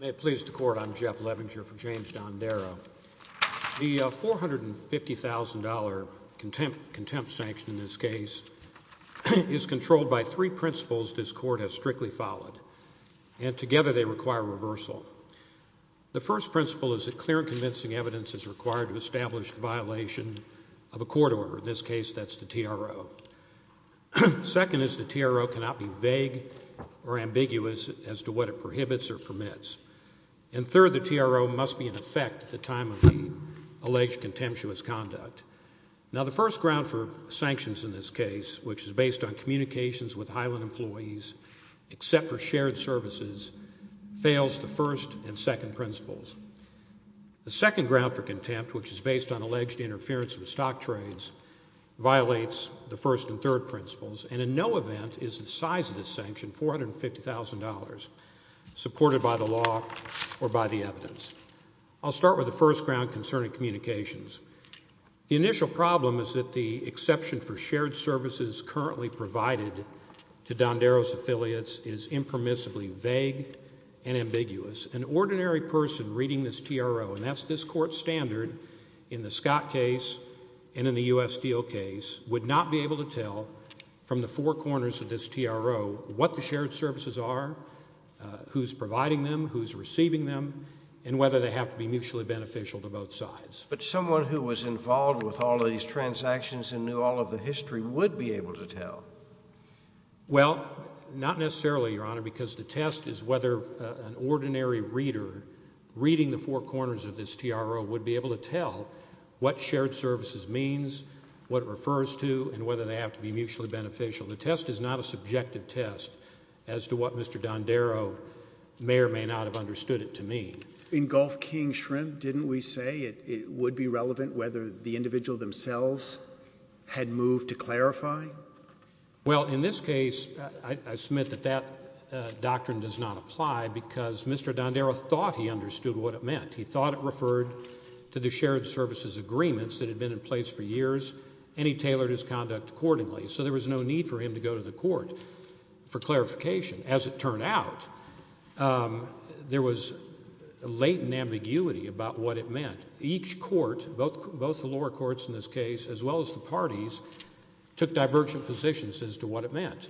May it please the Court, I'm Jeff Levinger for James Dondero. The $450,000 contempt sanction in this case is controlled by three principles this Court has strictly followed, and together they require reversal. The first principle is that clear and convincing evidence is required to establish the violation of a court order, in this case that's the TRO. Second is the TRO cannot be vague or ambiguous as to what it prohibits or permits. And third, the TRO must be in effect at the time of the alleged contemptuous conduct. Now the first ground for sanctions in this case, which is based on communications with Highland employees except for shared services, fails the first and second principles. The second ground for contempt, which is based on alleged interference with stock trades, violates the first and third principles, and in no event is the size of this sanction $450,000, supported by the law or by the evidence. I'll start with the first ground concerning communications. The initial problem is that the exception for shared services currently provided to Dondero's affiliates is impermissibly vague and ambiguous. An ordinary person reading this TRO, and that's this court's standard in the Scott case and in the U.S. Steel case, would not be able to tell from the four corners of this TRO what the shared services are, who's providing them, who's receiving them, and whether they have to be mutually beneficial to both sides. But someone who was involved with all of these transactions and knew all of the history would be able to tell. Well, not necessarily, Your Honor, because the test is whether an ordinary reader reading the four corners of this TRO would be able to tell what shared services means, what it refers to, and whether they have to be mutually beneficial. The test is not a subjective test as to what Mr. Dondero may or may not have understood it to mean. In Gulf King Shrimp, didn't we say it would be relevant whether the individual themselves had moved to clarifying? Well, in this case, I submit that that doctrine does not apply because Mr. Dondero thought he understood what it meant. He thought it referred to the shared services agreements that had been in place for years and he tailored his conduct accordingly. So there was no need for him to go to the court for clarification. As it turned out, there was latent ambiguity about what it meant. Each court, both the lower courts in this case as well as the parties, took divergent positions as to what it meant.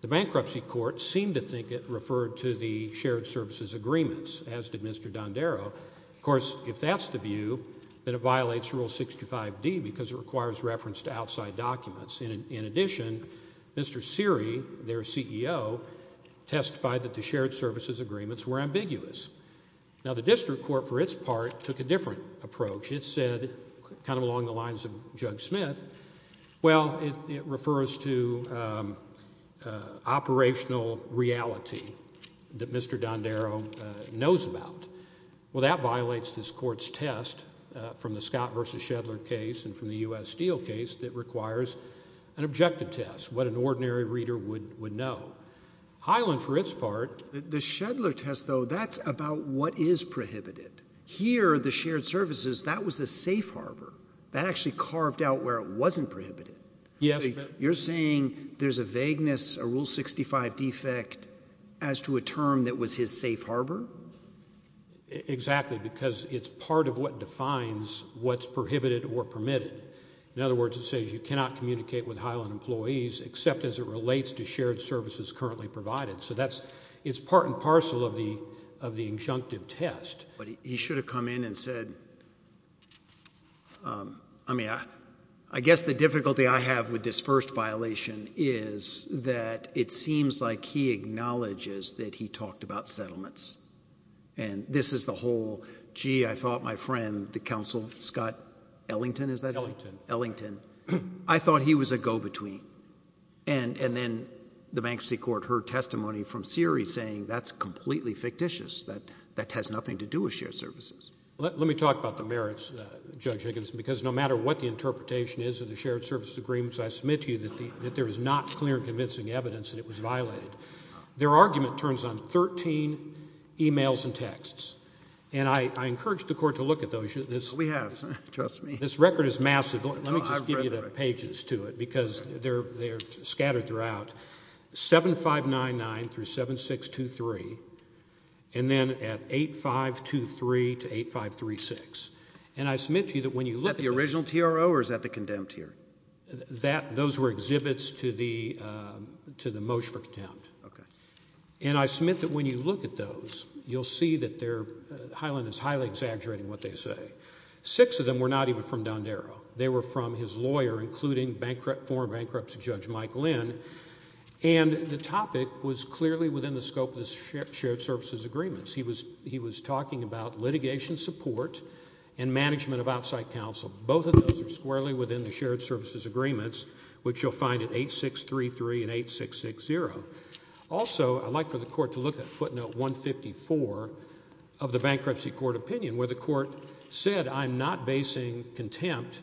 The bankruptcy court seemed to think it referred to the shared services agreements, as did Mr. Dondero. Of course, if that's the view, then it violates Rule 65D because it requires reference to outside documents. In addition, Mr. Seery, their CEO, testified that the shared services agreements were ambiguous. Now the district court, for its part, took a different approach. It said, kind of along the lines of Judge Smith, well, it refers to operational reality that Mr. Dondero knows about. Well, that violates this court's test from the Scott v. Shedler case and from the U.S. Steele case that requires an objective test, what an ordinary reader would know. Highland, for its part... The Shedler test, though, that's about what is prohibited. Here, the shared services, that was a safe harbor. That actually carved out where it wasn't prohibited. You're saying there's a vagueness, a Rule 65 defect, as to a term that was his safe harbor? Exactly, because it's part of what defines what's prohibited or permitted. In other words, it says you cannot communicate with Highland employees except as it relates to shared services currently provided. So that's, it's part and parcel of the injunctive test. He should have come in and said, I mean, I guess the difficulty I have with this first violation is that it seems like he acknowledges that he talked about settlements. And this is the whole, gee, I thought my friend, the counsel, Scott Ellington, is that his name? Ellington. Ellington. I thought he was a go-between. And then the Bankruptcy Court heard testimony from Siri saying that's completely fictitious, that has nothing to do with shared services. Let me talk about the merits, Judge Higgins, because no matter what the interpretation is of the shared services agreements, I submit to you that there is not clear and convincing evidence that it was violated. Their argument turns on 13 emails and texts. And I encourage the Court to look at those. We have. Trust me. This record is massive. Let me just give you the pages to it, because they're scattered throughout, 7599-7623, and then at 8523-8536. And I submit to you that when you look at. Is that the original TRO or is that the condemned here? Those were exhibits to the motion for contempt. And I submit that when you look at those, you'll see that Highland is highly exaggerating what they say. Six of them were not even from Dondero. They were from his lawyer, including former bankruptcy judge Mike Lynn. And the topic was clearly within the scope of the shared services agreements. He was talking about litigation support and management of outside counsel. Both of those are squarely within the shared services agreements, which you'll find at 8633 and 8660. Also, I'd like for the Court to look at footnote 154 of the bankruptcy court opinion, where the Court said, I'm not basing contempt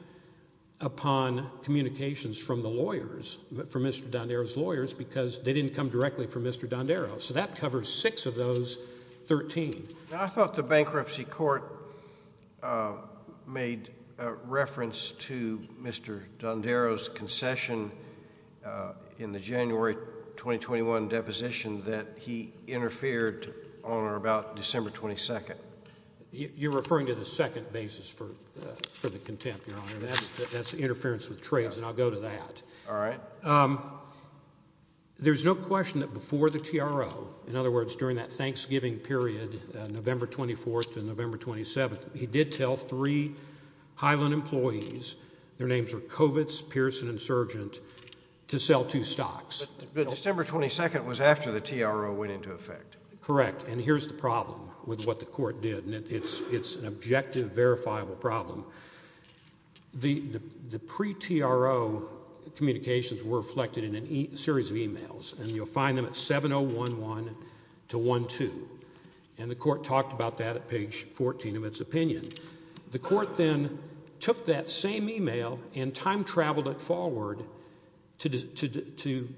upon communications from the lawyers, from Mr. Dondero's lawyers, because they didn't come directly from Mr. Dondero. So that covers six of those 13. I thought the bankruptcy court made reference to Mr. Dondero's concession in the January 2021 deposition that he interfered on or about December 22nd. You're referring to the second basis for the contempt, Your Honor, and that's interference with trades, and I'll go to that. All right. There's no question that before the TRO, in other words, during that Thanksgiving period, November 24th and November 27th, he did tell three Highland employees, their names were Kovitz, Pearson, and Surgent, to sell two stocks. But December 22nd was after the TRO went into effect. Correct. And here's the problem with what the Court did, and it's an objective, verifiable problem. The pre-TRO communications were reflected in a series of emails, and you'll find them at 7011 to 12, and the Court talked about that at page 14 of its opinion. The Court then took that same email and time-traveled it forward to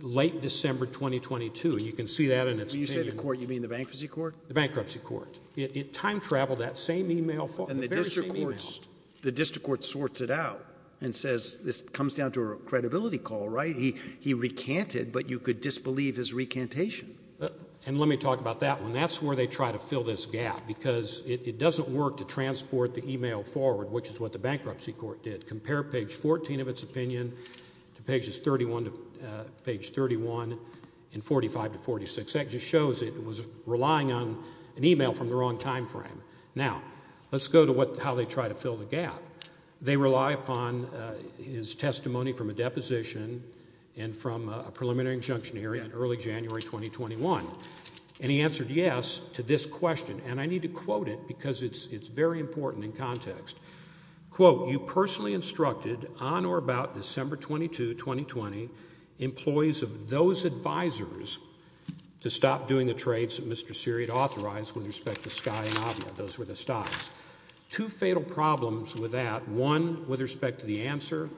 late December 2022, and you can see that in its opinion. So when you say the Court, you mean the Bankruptcy Court? The Bankruptcy Court. It time-traveled that same email, the very same email. The District Court sorts it out and says, this comes down to a credibility call, right? He recanted, but you could disbelieve his recantation. And let me talk about that one. That's where they try to fill this gap, because it doesn't work to transport the email forward, which is what the Bankruptcy Court did. It compared page 14 of its opinion to pages 31 to page 31 in 45 to 46. That just shows it was relying on an email from the wrong time frame. Now, let's go to how they try to fill the gap. They rely upon his testimony from a deposition and from a preliminary injunction hearing in early January 2021, and he answered yes to this question. And I need to quote it, because it's very important in context. Quote, you personally instructed on or about December 22, 2020, employees of those advisers to stop doing the trades that Mr. Seary had authorized with respect to Skye and Avia. Those were the stocks. Two fatal problems with that, one with respect to the answer,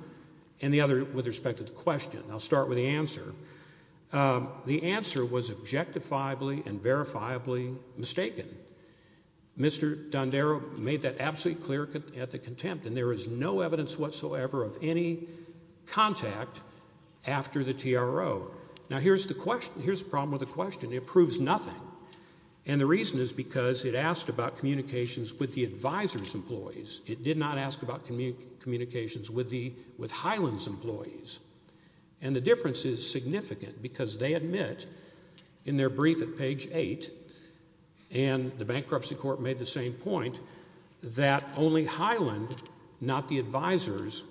and the other with respect to the question. I'll start with the answer. The answer was objectifiably and verifiably mistaken. Mr. Dondero made that absolutely clear at the contempt, and there is no evidence whatsoever of any contact after the TRO. Now, here's the problem with the question. It proves nothing, and the reason is because it asked about communications with the advisers' employees. It did not ask about communications with Highland's employees. And the difference is significant, because they admit, in their brief at page 8, and the bankruptcy court made the same point, that only Highland, not the advisers,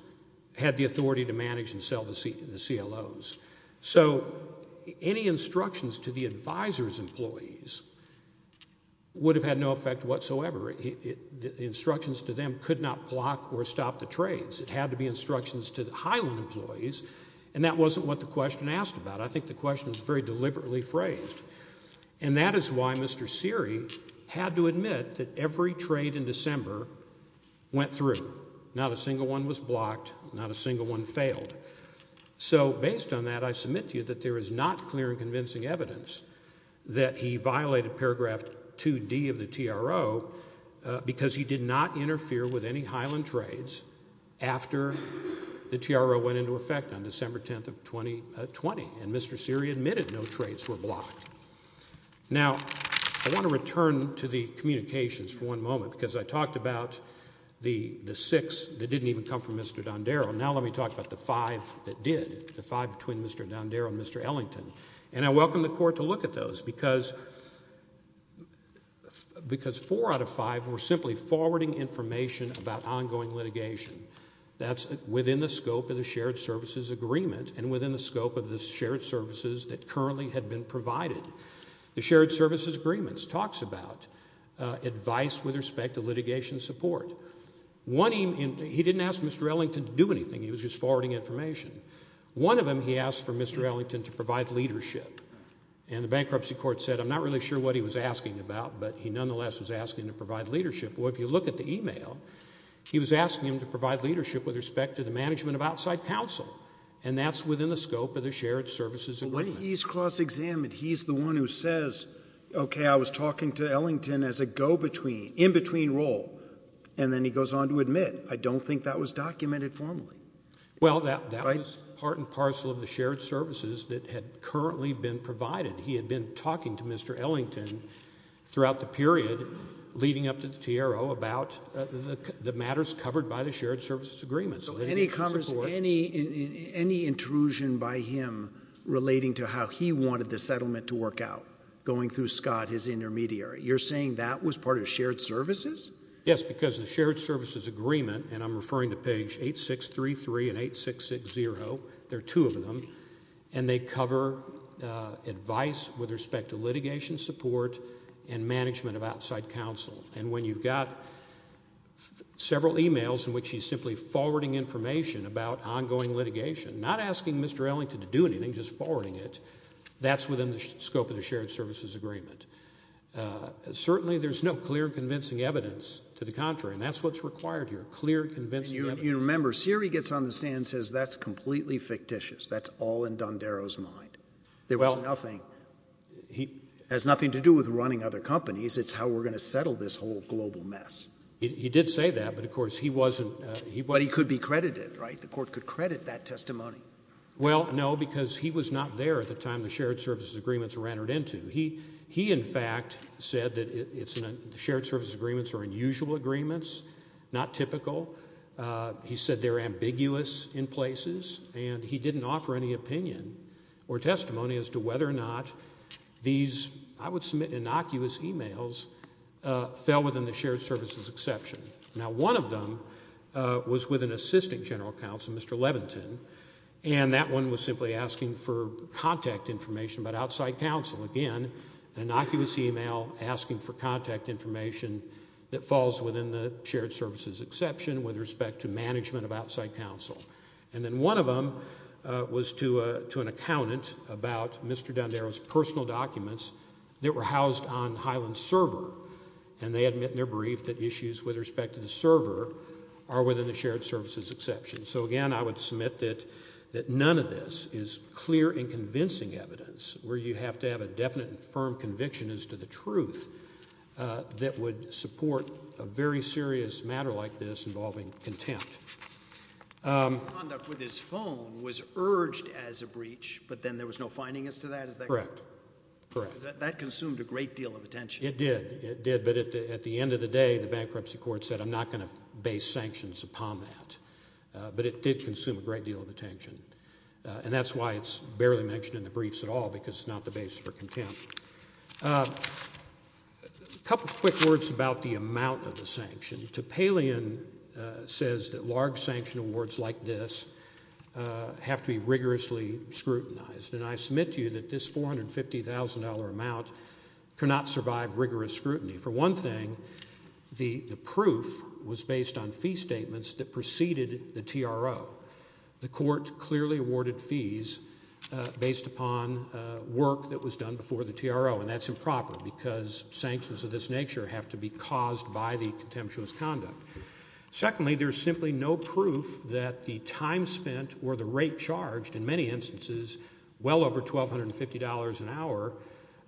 had the authority to manage and sell the CLOs. So any instructions to the advisers' employees would have had no effect whatsoever. The instructions to them could not block or stop the trades. It had to be instructions to the Highland employees, and that wasn't what the question asked about. I think the question was very deliberately phrased. And that is why Mr. Seary had to admit that every trade in December went through. Not a single one was blocked. Not a single one failed. So based on that, I submit to you that there is not clear and convincing evidence that he violated paragraph 2D of the TRO, because he did not interfere with any Highland trades after the TRO went into effect on December 10th of 2020. And Mr. Seary admitted no trades were blocked. Now, I want to return to the communications for one moment, because I talked about the six that didn't even come from Mr. Dondero. Now let me talk about the five that did, the five between Mr. Dondero and Mr. Ellington. And I welcome the court to look at those, because four out of five were simply forwarding information about ongoing litigation. That's within the scope of the shared services agreement and within the scope of the shared services that currently had been provided. The shared services agreements talks about advice with respect to litigation support. One, he didn't ask Mr. Ellington to do anything. He was just forwarding information. One of them, he asked for Mr. Ellington to provide leadership. And the bankruptcy court said, I'm not really sure what he was asking about, but he nonetheless was asking to provide leadership. Well, if you look at the email, he was asking him to provide leadership with respect to the management of outside counsel. And that's within the scope of the shared services agreement. When he's cross-examined, he's the one who says, okay, I was talking to Ellington as a go-between, in-between role, and then he goes on to admit, I don't think that was documented formally. Well, that was part and parcel of the shared services that had currently been provided. He had been talking to Mr. Ellington throughout the period leading up to the TRO about the matters covered by the shared services agreement. So any intrusion by him relating to how he wanted the settlement to work out, going through Scott, his intermediary, you're saying that was part of shared services? Yes, because the shared services agreement, and I'm referring to page 8633 and 8660, there are two of them, and they cover advice with respect to litigation support and management of outside counsel. And when you've got several emails in which he's simply forwarding information about ongoing litigation, not asking Mr. Ellington to do anything, just forwarding it, that's within the scope of the shared services agreement. Certainly, there's no clear convincing evidence to the contrary, and that's what's required here, clear convincing evidence. You remember, Seary gets on the stand and says, that's completely fictitious. That's all in D'Andaro's mind. There was nothing, has nothing to do with running other companies. It's how we're going to settle this whole global mess. He did say that, but of course, he wasn't... But he could be credited, right? The court could credit that testimony. Well, no, because he was not there at the time the shared services agreements were entered into. He, in fact, said that shared services agreements are unusual agreements, not typical. He said they're ambiguous in places, and he didn't offer any opinion or testimony as to whether or not these, I would submit, innocuous emails fell within the shared services exception. Now, one of them was with an assistant general counsel, Mr. Leventon, and that one was simply asking for contact information about outside counsel. Again, innocuous email asking for contact information that falls within the shared services exception with respect to management of outside counsel. And then one of them was to an accountant about Mr. D'Andaro's personal documents that were housed on Highland's server, and they admit in their brief that issues with respect to the server are within the shared services exception. So, again, I would submit that none of this is clear and convincing evidence where you have to have a definite and firm conviction as to the truth that would support a very serious matter like this involving contempt. His conduct with his phone was urged as a breach, but then there was no finding as to that? Correct. That consumed a great deal of attention. It did, it did. But at the end of the day, the bankruptcy court said, I'm not going to base sanctions upon that. But it did consume a great deal of attention. And that's why it's barely mentioned in the briefs at all, because it's not the basis for contempt. A couple of quick words about the amount of the sanction. Topalian says that large sanction awards like this have to be rigorously scrutinized. And I submit to you that this $450,000 amount cannot survive rigorous scrutiny. For one thing, the proof was based on fee statements that preceded the TRO. The court clearly awarded fees based upon work that was done before the TRO. And that's improper, because sanctions of this nature have to be caused by the contemptuous conduct. Secondly, there's simply no proof that the time spent or the rate charged in many instances, well over $1,250 an hour,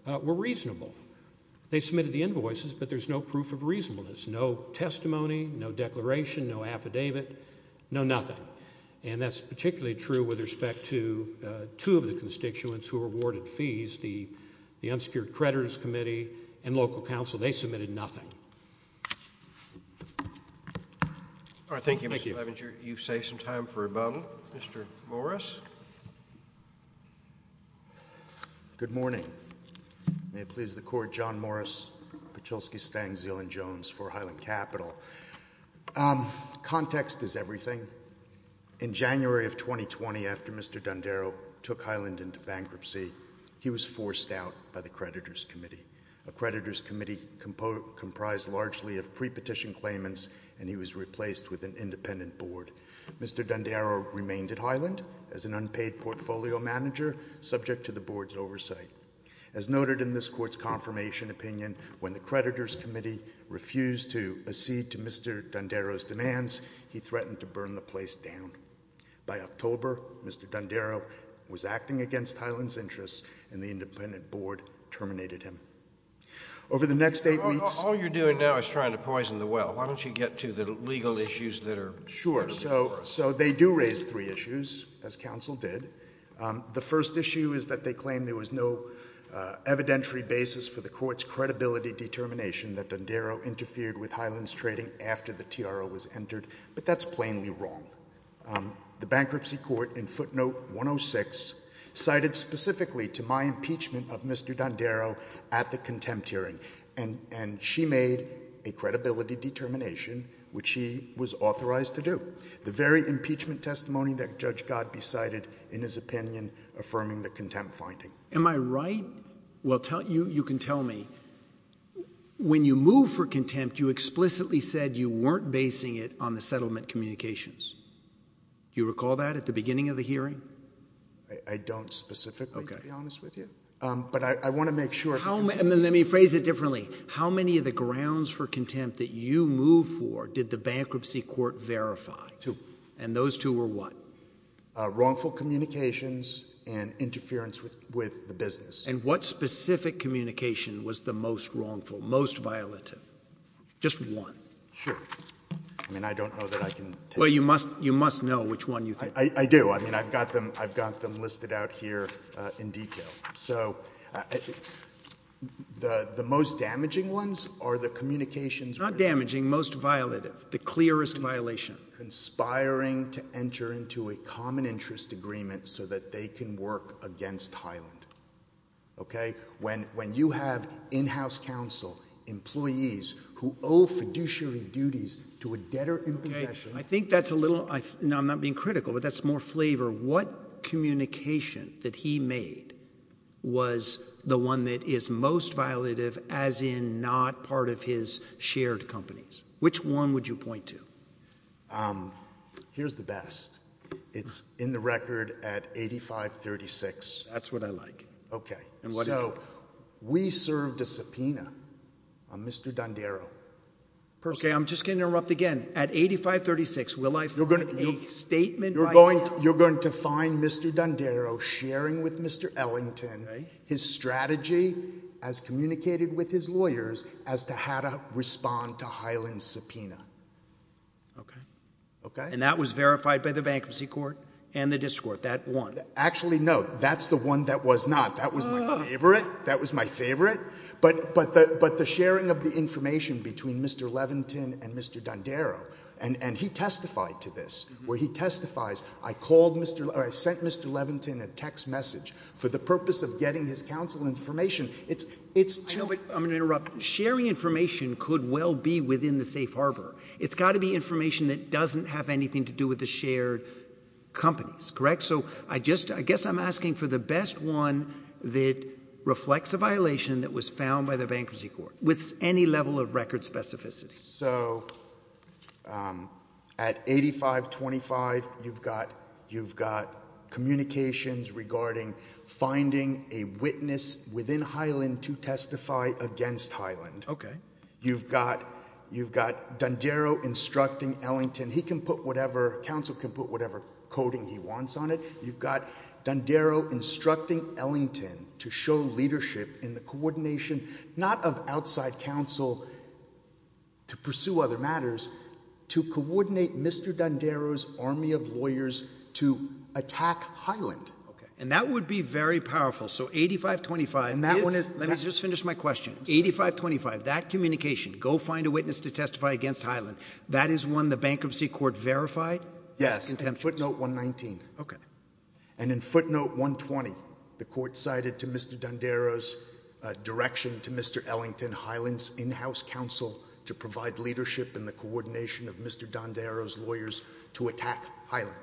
were reasonable. They submitted the invoices, but there's no proof of reasonableness. No testimony, no declaration, no affidavit, no nothing. And that's particularly true with respect to two of the constituents who were awarded fees, the Unsecured Creditors Committee and local council. They submitted nothing. All right. Thank you. Mr. Levenger, you save some time for a moment. Mr. Morris. Good morning. May it please the court, John Morris, Pachulsky, Stang, Zill and Jones for Highland Capital. Context is everything. In January of 2020, after Mr. D'Andaro took Highland into bankruptcy, he was forced out by the Creditors Committee. A Creditors Committee comprised largely of pre-petition claimants, and he was replaced with an independent board. Mr. D'Andaro remained at Highland as an unpaid portfolio manager, subject to the board's oversight. As noted in this court's confirmation opinion, when the Creditors Committee refused to accede to Mr. D'Andaro's demands, he threatened to burn the place down. And the independent board terminated him. Over the next eight weeks- All you're doing now is trying to poison the well. Why don't you get to the legal issues that are- Sure. So they do raise three issues, as counsel did. The first issue is that they claim there was no evidentiary basis for the court's credibility determination that D'Andaro interfered with Highland's trading after the TRO was entered. But that's plainly wrong. The Bankruptcy Court, in footnote 106, cited specifically to my impeachment of Mr. D'Andaro at the contempt hearing. And she made a credibility determination, which she was authorized to do. The very impeachment testimony that Judge Godbey cited in his opinion, affirming the contempt finding. Am I right? Well, you can tell me. When you moved for contempt, you explicitly said you weren't basing it on the settlement communications. Do you recall that at the beginning of the hearing? I don't specifically, to be honest with you. But I want to make sure- And then let me phrase it differently. How many of the grounds for contempt that you moved for did the Bankruptcy Court verify? Two. And those two were what? Wrongful communications and interference with the business. And what specific communication was the most wrongful, most violative? Just one. Sure. I mean, I don't know that I can- Well, you must know which one you think. I do. I mean, I've got them listed out here in detail. So, the most damaging ones are the communications- Not damaging, most violative. The clearest violation. Conspiring to enter into a common interest agreement so that they can work against Highland. Okay? When you have in-house counsel, employees, who owe fiduciary duties to a debtor in possession- I think that's a little, now I'm not being critical, but that's more flavor. What communication that he made was the one that is most violative, as in not part of his shared companies? Which one would you point to? Here's the best. It's in the record at 8536. That's what I like. Okay. So, we served a subpoena on Mr. Dondero. Okay, I'm just going to interrupt again. At 8536, will I find a statement- You're going to find Mr. Dondero sharing with Mr. Ellington his strategy as communicated with his lawyers as to how to respond to Highland's subpoena. Okay. Okay? And that was verified by the bankruptcy court and the district court, that one? Actually, no, that's the one that was not. That was my favorite. That was my favorite. But the sharing of the information between Mr. Leventon and Mr. Dondero, and he testified to this, where he testifies, I called Mr., or I sent Mr. Leventon a text message for the purpose of getting his counsel information. It's- I know, but I'm going to interrupt. Sharing information could well be within the safe harbor. It's got to be information that doesn't have anything to do with the shared companies, correct? So I just, I guess I'm asking for the best one that reflects a violation that was found by the bankruptcy court with any level of record specificity. So at 8525, you've got communications regarding finding a witness within Highland to testify against Highland. Okay. You've got Dondero instructing Ellington. He can put whatever, counsel can put whatever coding he wants on it. You've got Dondero instructing Ellington to show leadership in the coordination, not of outside counsel to pursue other matters, to coordinate Mr. Dondero's army of lawyers to attack Highland. Okay. And that would be very powerful. So 8525- And that one is- Let me just finish my question. 8525, that communication, go find a witness to testify against Highland, that is one the bankruptcy court verified? Yes, in footnote 119. Okay. And in footnote 120, the court cited to Mr. Dondero's direction to Mr. Ellington, Highland's in-house counsel to provide leadership in the coordination of Mr. Dondero's lawyers to attack Highland,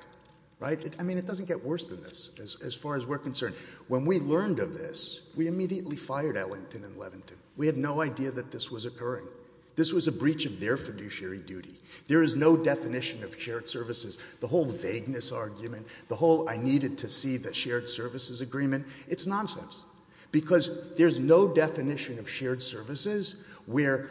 right? I mean, it doesn't get worse than this, as far as we're concerned. When we learned of this, we immediately fired Ellington and Levington. We had no idea that this was occurring. This was a breach of their fiduciary duty. There is no definition of shared services. The whole vagueness argument, the whole I needed to see the shared services agreement, it's nonsense. Because there's no definition of shared services where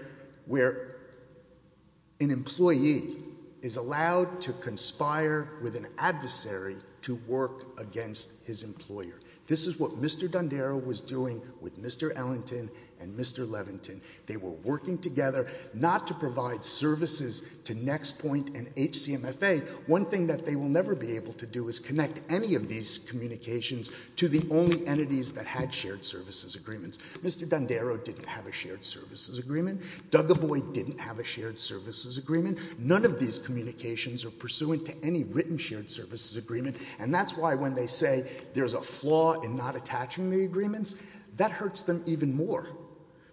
an employee is allowed to conspire with an adversary to work against his employer. This is what Mr. Dondero was doing with Mr. Ellington and Mr. Levington. They were working together not to provide services to Nextpoint and HCMFA. One thing that they will never be able to do is connect any of these communications to the only entities that had shared services agreements. Mr. Dondero didn't have a shared services agreement. Doug Abboy didn't have a shared services agreement. None of these communications are pursuant to any written shared services agreement. And that's why when they say there's a flaw in not attaching the agreements, that hurts them even more.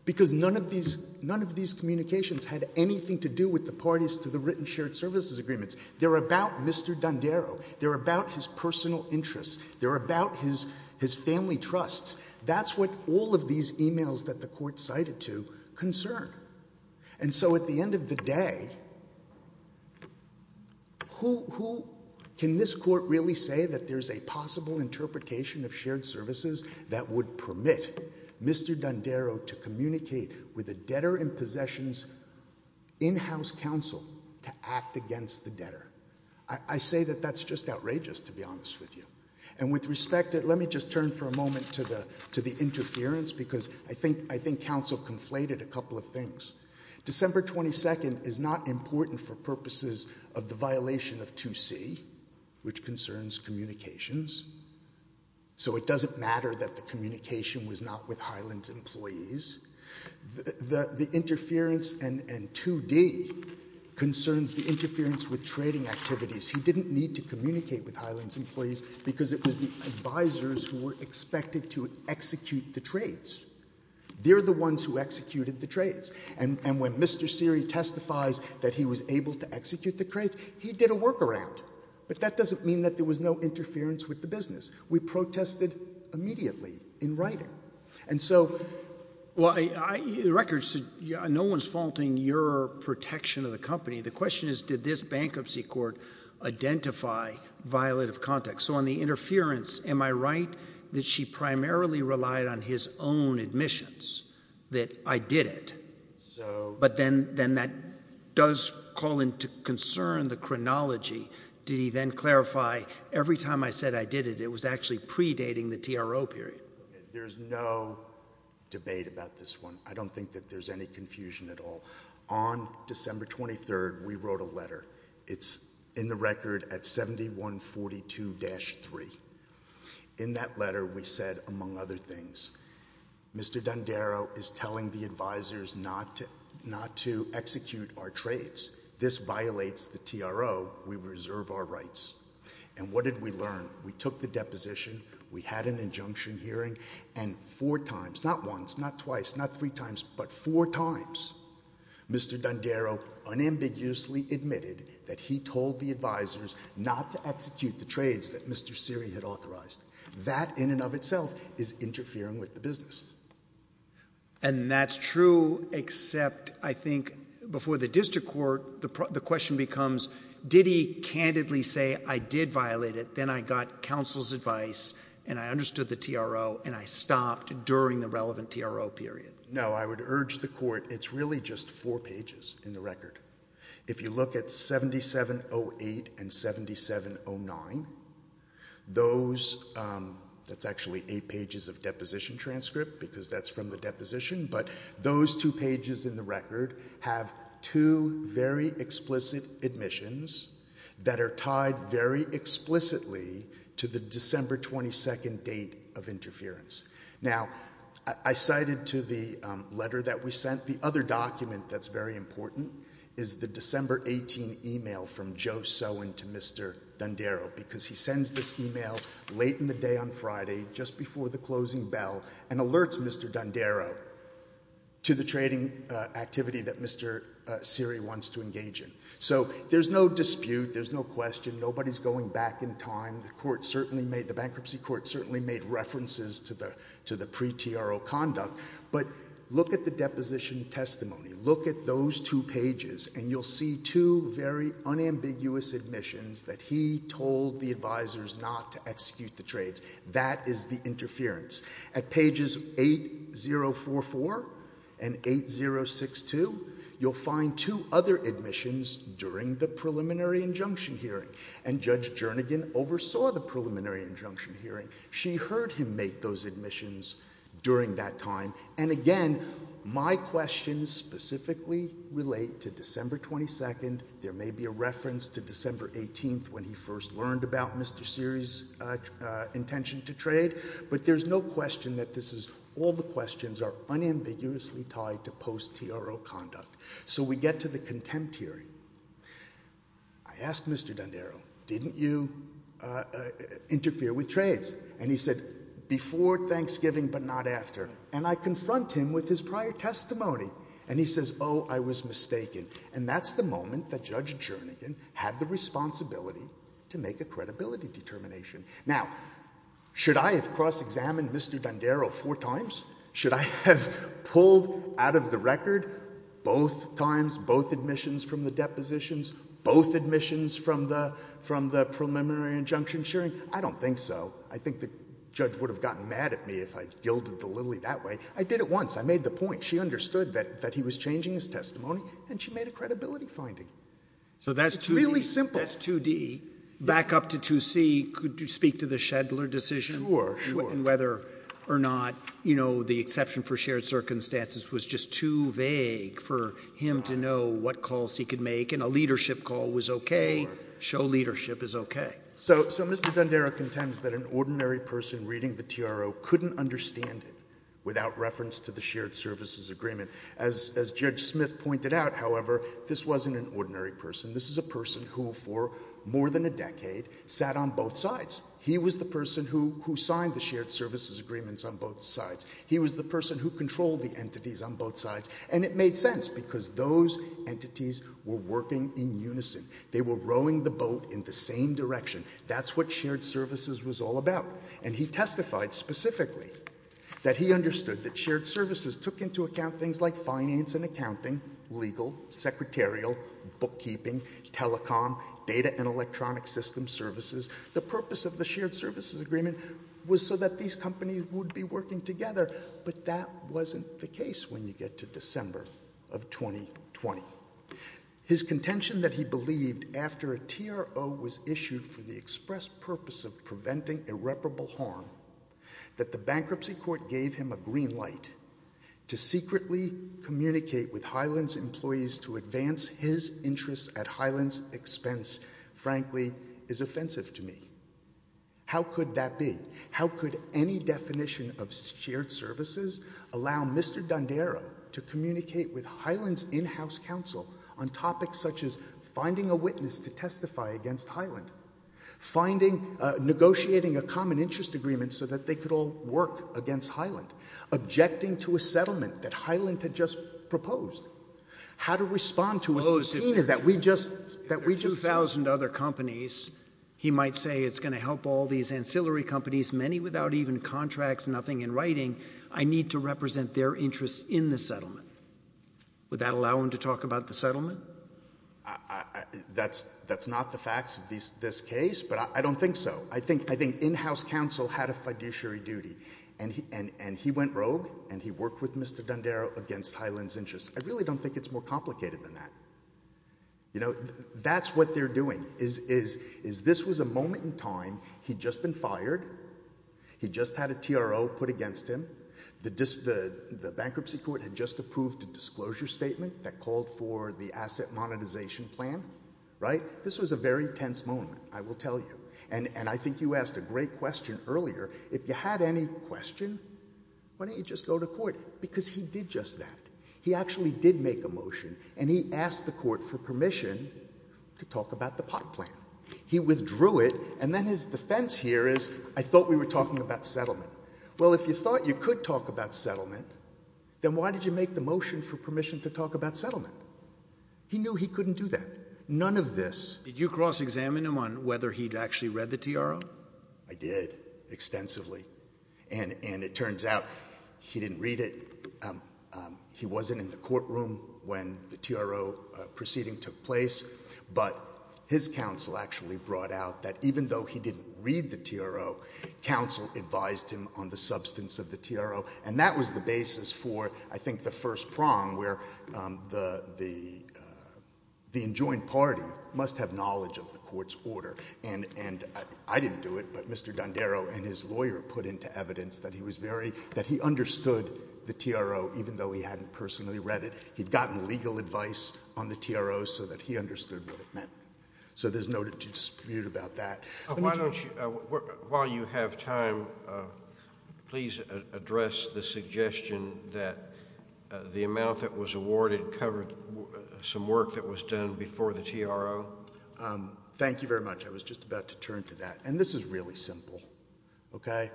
Because none of these communications had anything to do with the parties to the written shared services agreements. They're about Mr. Dondero. They're about his personal interests. They're about his family trusts. That's what all of these emails that the court cited to concern. And so at the end of the day, can this court really say that there's a possible interpretation of shared services that would permit Mr. Dondero to communicate with a debtor in possessions in-house counsel to act against the debtor? I say that that's just outrageous, to be honest with you. And with respect, let me just turn for a moment to the interference, because I think counsel conflated a couple of things. December 22nd is not important for purposes of the violation of 2C, which concerns communications. So it doesn't matter that the communication was not with Highland employees. The interference and 2D concerns the interference with trading activities. He didn't need to communicate with Highland's employees because it was the advisors who were expected to execute the trades. They're the ones who executed the trades. And when Mr. Seary testifies that he was able to execute the trades, he did a workaround. But that doesn't mean that there was no interference with the business. We protested immediately in writing. And so, well, records, no one's faulting your protection of the company. The question is, did this bankruptcy court identify violative context? So on the interference, am I right that she primarily relied on his own admissions, that I did it? But then that does call into concern the chronology. Did he then clarify, every time I said I did it, it was actually predating the TRO period? There's no debate about this one. I don't think that there's any confusion at all. On December 23rd, we wrote a letter. It's in the record at 7142-3. In that letter, we said, among other things, Mr. D'Andaro is telling the advisors not to execute our trades. This violates the TRO. We reserve our rights. And what did we learn? We took the deposition, we had an injunction hearing, and four times, not once, not twice, not three times, but four times, Mr. D'Andaro unambiguously admitted that he told the advisors not to execute the trades that Mr. Seary had authorized. That, in and of itself, is interfering with the business. And that's true, except, I think, before the district court, the question becomes, did he candidly say, I did violate it, then I got counsel's advice, and I understood the TRO, and I stopped during the relevant TRO period? No, I would urge the court, it's really just four pages in the record. If you look at 7708 and 7709, those, that's actually eight pages of deposition transcript, because that's from the deposition, but those two pages in the record have two very explicit admissions that are tied very explicitly to the December 22nd date of interference. Now, I cited to the letter that we sent, the other document that's very important is the December 18 email from Joe Sowen to Mr. D'Andaro, because he sends this email late in the day on Friday, just before the closing bell, and alerts Mr. D'Andaro to the trading activity that Mr. Seary wants to engage in. So there's no dispute, there's no question, nobody's going back in time, the bankruptcy court certainly made references to the pre-TRO conduct, but look at the deposition testimony, look at those two pages, and you'll see two very unambiguous admissions that he told the advisors not to execute the trades. That is the interference. At pages 8044 and 8062, you'll find two other admissions during the preliminary injunction hearing, and Judge Jernigan oversaw the preliminary injunction hearing. She heard him make those admissions during that time, and again, my questions specifically relate to December 22nd, there may be a reference about Mr. Seary's intention to trade, but there's no question that this is, all the questions are unambiguously tied to post-TRO conduct. So we get to the contempt hearing. I asked Mr. D'Andaro, didn't you interfere with trades? And he said, before Thanksgiving, but not after. And I confront him with his prior testimony, and he says, oh, I was mistaken. And that's the moment that Judge Jernigan had the responsibility to make a credibility determination. Now, should I have cross-examined Mr. D'Andaro four times? Should I have pulled out of the record both times, both admissions from the depositions, both admissions from the preliminary injunction hearing? I don't think so. I think the judge would have gotten mad at me if I'd yielded the lily that way. I did it once, I made the point. She understood that he was changing his testimony, and she made a credibility finding. So that's really simple. That's 2D. Back up to 2C, could you speak to the Schedler decision? Sure, sure. And whether or not, you know, the exception for shared circumstances was just too vague for him to know what calls he could make, and a leadership call was okay. Show leadership is okay. So Mr. D'Andaro contends that an ordinary person reading the TRO couldn't understand it without reference to the shared services agreement. As Judge Smith pointed out, however, this wasn't an ordinary person. This is a person who, for more than a decade, sat on both sides. He was the person who signed the shared services agreements on both sides. He was the person who controlled the entities on both sides, and it made sense because those entities were working in unison. They were rowing the boat in the same direction. That's what shared services was all about. And he testified specifically that he understood that shared services took into account things like finance and accounting, legal, secretarial, bookkeeping, telecom, data and electronic system services. The purpose of the shared services agreement was so that these companies would be working together, but that wasn't the case when you get to December of 2020. His contention that he believed after a TRO was issued for the express purpose of preventing irreparable harm, that the bankruptcy court gave him a green light to secretly communicate with Highland's employees to advance his interests at Highland's expense, frankly, is offensive to me. How could that be? How could any definition of shared services allow Mr. Dondero to communicate with Highland's in-house counsel on topics such as finding a witness to testify against Highland, finding, negotiating a common interest agreement so that they could all work against Highland, objecting to a settlement that Highland had just proposed? How to respond to a subpoena that we just- If there are 2,000 other companies, he might say it's gonna help all these ancillary companies, many without even contracts, nothing in writing. I need to represent their interests in the settlement. Would that allow him to talk about the settlement? That's not the facts of this case, but I don't think so. I think in-house counsel had a fiduciary duty, and he went rogue, and he worked with Mr. Dondero against Highland's interests. I really don't think it's more complicated than that. You know, that's what they're doing, is this was a moment in time he'd just been fired, he'd just had a TRO put against him, the bankruptcy court had just approved a disclosure statement that called for the asset monetization plan, right? This was a very tense moment, I will tell you. And I think you asked a great question earlier. If you had any question, why don't you just go to court? Because he did just that. He actually did make a motion, and he asked the court for permission to talk about the pot plan. He withdrew it, and then his defense here is, I thought we were talking about settlement. Well, if you thought you could talk about settlement, then why did you make the motion for permission to talk about settlement? He knew he couldn't do that. None of this. Did you cross-examine him on whether he'd actually read the TRO? I did, extensively. And it turns out he didn't read it. He wasn't in the courtroom when the TRO proceeding took place. But his counsel actually brought out that even though he didn't read the TRO, counsel advised him on the substance of the TRO. And that was the basis for, I think, the first prong where the enjoined party must have knowledge of the court's order. And I didn't do it, but Mr. Dondero and his lawyer put into evidence that he was very, that he understood the TRO, even though he hadn't personally read it. He'd gotten legal advice on the TRO so that he understood what it meant. So there's no dispute about that. Why don't you, while you have time, please address the suggestion that the amount that was awarded covered some work that was done before the TRO? Thank you very much. I was just about to turn to that. And this is really simple, okay?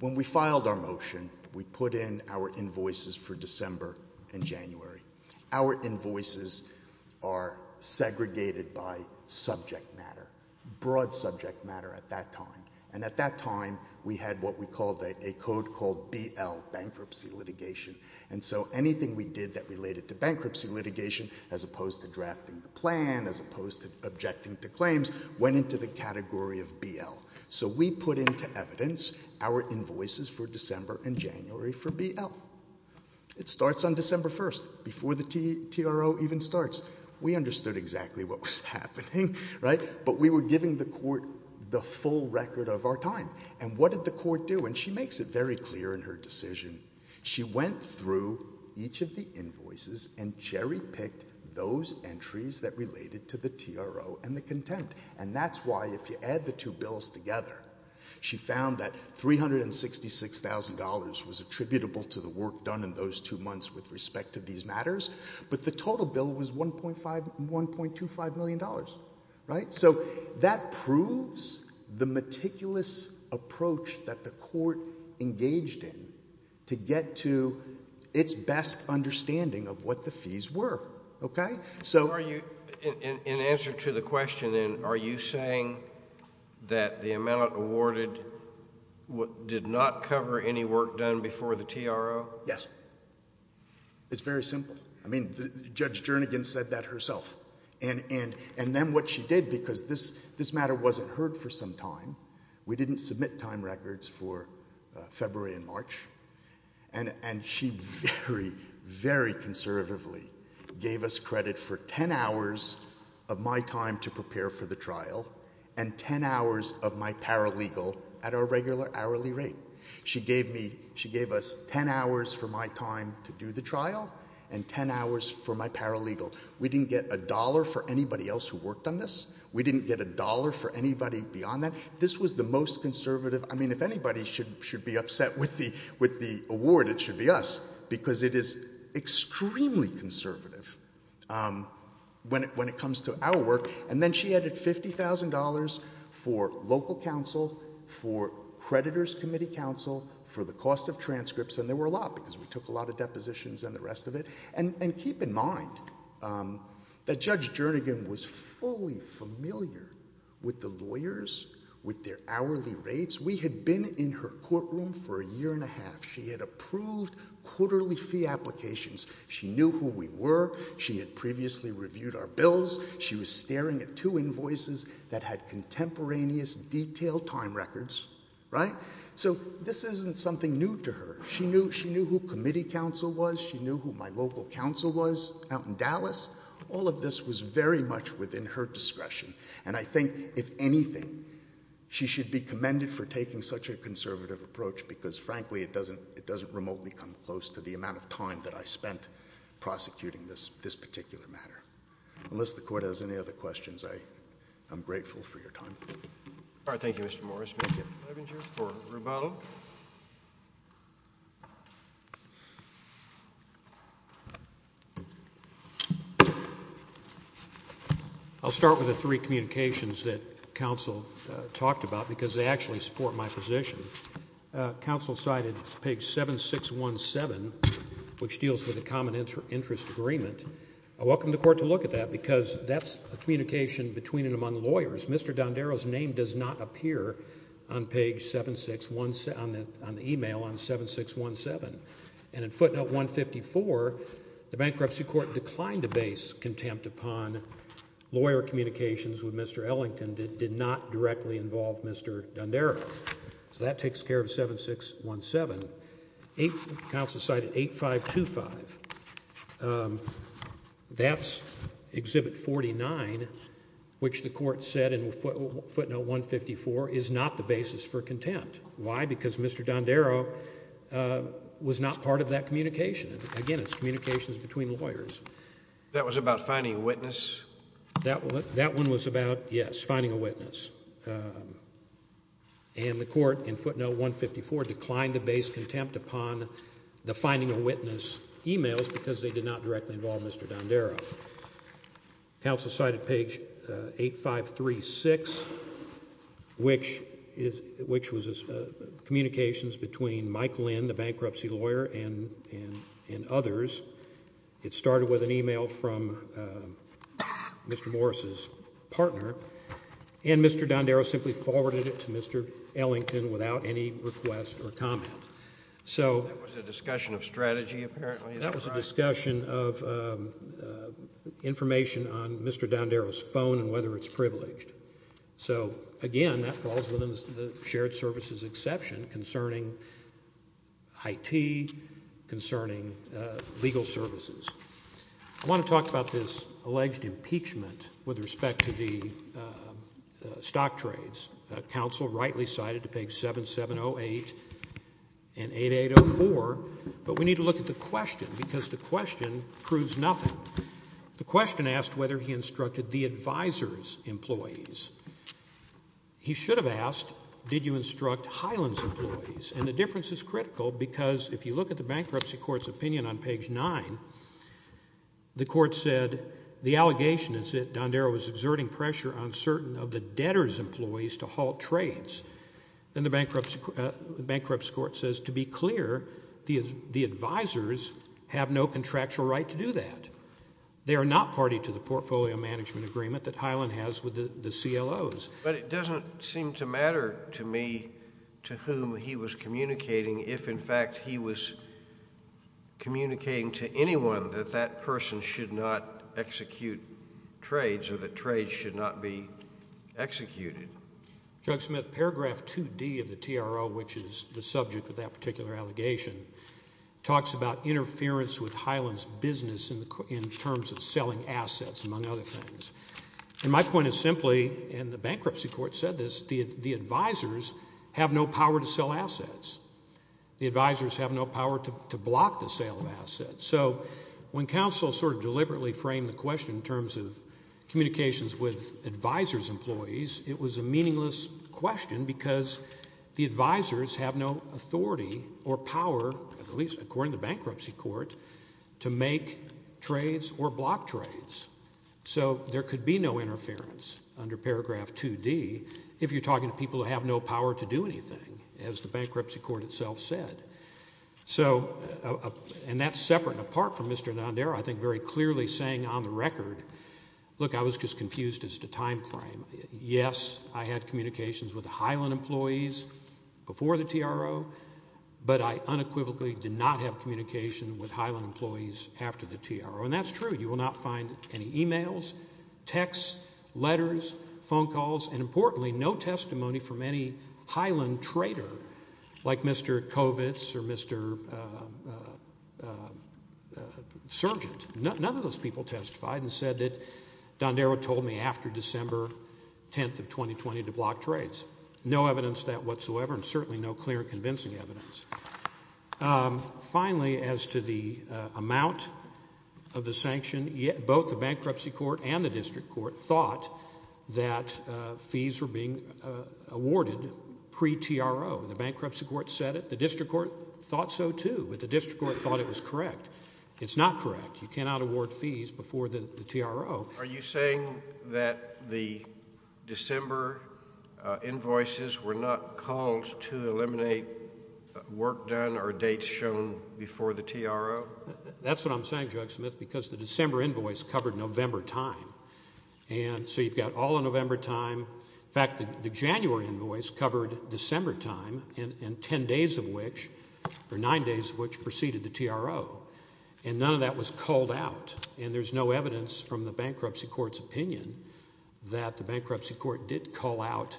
When we filed our motion, we put in our invoices for December and January. Our invoices are segregated by subject matter, broad subject matter at that time. And at that time, we had what we called a code called BL, bankruptcy litigation. And so anything we did that related to bankruptcy litigation as opposed to drafting the plan, as opposed to objecting to claims, went into the category of BL. So we put into evidence our invoices for December and January for BL. It starts on December 1st, before the TRO even starts. We understood exactly what was happening, right? But we were giving the court the full record of our time. And what did the court do? She went through each of the invoices and cherry-picked those entries that related to the TRO and the contempt. And that's why if you add the two bills together, she found that $366,000 was attributable to the work done in those two months with respect to these matters. But the total bill was $1.25 million, right? So that proves the meticulous approach that the court engaged in to get to its best understanding of what the fees were, okay? So- In answer to the question, are you saying that the amount awarded did not cover any work done before the TRO? Yes. It's very simple. I mean, Judge Jernigan said that herself. And then what she did, because this matter wasn't heard for some time, we didn't submit time records for February and March, and she very, very conservatively gave us credit for 10 hours of my time to prepare for the trial and 10 hours of my paralegal at our regular hourly rate. She gave me, she gave us 10 hours for my time to do the trial and 10 hours for my paralegal. We didn't get a dollar for anybody else who worked on this. We didn't get a dollar for anybody beyond that. This was the most conservative, I mean, if anybody should be upset with the award, it should be us, because it is extremely conservative when it comes to our work. And then she added $50,000 for local counsel, for creditors committee counsel, for the cost of transcripts, and there were a lot because we took a lot of depositions and the rest of it. And keep in mind that Judge Jernigan was fully familiar with the lawyers, with their hourly rates. We had been in her courtroom for a year and a half. She had approved quarterly fee applications. She knew who we were. She had previously reviewed our bills. She was staring at two invoices that had contemporaneous detailed time records, right? So this isn't something new to her. She knew who committee counsel was. She knew who my local counsel was out in Dallas. All of this was very much within her discretion. And I think if anything, she should be commended for taking such a conservative approach, because frankly, it doesn't remotely come close to the amount of time that I spent prosecuting this particular matter. Unless the court has any other questions, I am grateful for your time. All right, thank you, Mr. Morris. Thank you, Levinger for Rubato. I'll start with the three communications that counsel talked about, because they actually support my position. Counsel cited page 7617, which deals with a common interest agreement. I welcome the court to look at that, because that's a communication between and among lawyers. Mr. Dondero's name does not appear on page 7617, on the email on 7617. And in footnote 154, the bankruptcy court declined to base contempt upon lawyer communications with Mr. Ellington that did not directly involve Mr. Dondero. So that takes care of 7617. Counsel cited 8525. That's exhibit 49, which the court said in footnote 154 is not the basis for contempt. Why? Because Mr. Dondero was not part of that communication. Again, it's communications between lawyers. That was about finding a witness? That one was about, yes, finding a witness. And the court in footnote 154 declined to base contempt upon the finding a witness emails because they did not directly involve Mr. Dondero. Counsel cited page 8536, which was communications between Mike Lynn, the bankruptcy lawyer, and others. It started with an email from Mr. Morris's partner. And Mr. Dondero simply forwarded it to Mr. Ellington without any request or comment. So- That was a discussion of strategy, apparently. That was a discussion of information on Mr. Dondero's phone and whether it's privileged. So again, that falls within the shared services exception concerning IT, concerning legal services. I wanna talk about this alleged impeachment with respect to the stock trades. Counsel rightly cited to page 7708 and 8804, but we need to look at the question because the question proves nothing. The question asked whether he instructed the advisor's employees. He should have asked, did you instruct Highland's employees? And the difference is critical because if you look at the bankruptcy court's opinion on page nine, the court said, the allegation is that Dondero was exerting pressure on certain of the debtor's employees to halt trades. And the bankruptcy court says, to be clear, the advisors have no contractual right to do that. They are not party to the portfolio management agreement that Highland has with the CLOs. But it doesn't seem to matter to me to whom he was communicating if in fact he was communicating to anyone that that person should not execute trades or that trades should not be executed. Judge Smith, paragraph 2D of the TRO, which is the subject of that particular allegation, talks about interference with Highland's business in terms of selling assets, among other things. And my point is simply, and the bankruptcy court said this, the advisors have no power to sell assets. The advisors have no power to block the sale of assets. So when counsel sort of deliberately framed the question in terms of communications with advisors' employees, it was a meaningless question because the advisors have no authority or power, at least according to the bankruptcy court, to make trades or block trades. So there could be no interference under paragraph 2D if you're talking to people who have no power to do anything, as the bankruptcy court itself said. So, and that's separate and apart from Mr. Nandera, I think very clearly saying on the record, look, I was just confused as to time frame. Yes, I had communications with the Highland employees before the TRO, but I unequivocally did not have communication with Highland employees after the TRO. And that's true. You will not find any emails, texts, letters, phone calls, and importantly, no testimony from any Highland trader like Mr. Kovitz or Mr. Sergent. None of those people testified and said that Nandera told me after December 10th of 2020 to block trades. No evidence that whatsoever and certainly no clear convincing evidence. Finally, as to the amount of the sanction, both the bankruptcy court and the district court thought that fees were being awarded pre-TRO. The bankruptcy court said it. The district court thought so too, but the district court thought it was correct. It's not correct. You cannot award fees before the TRO. Are you saying that the December invoices were not called to eliminate work done or dates shown before the TRO? That's what I'm saying, Judge Smith, because the December invoice covered November time. And so you've got all of November time. In fact, the January invoice covered December time and 10 days of which, or 9 days of which, preceded the TRO. And none of that was called out, and there's no evidence from the bankruptcy court's opinion that the bankruptcy court did call out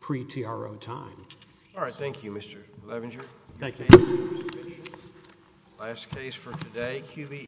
pre-TRO time. All right, thank you, Mr. Levenger. Thank you. Last case for today, QBE.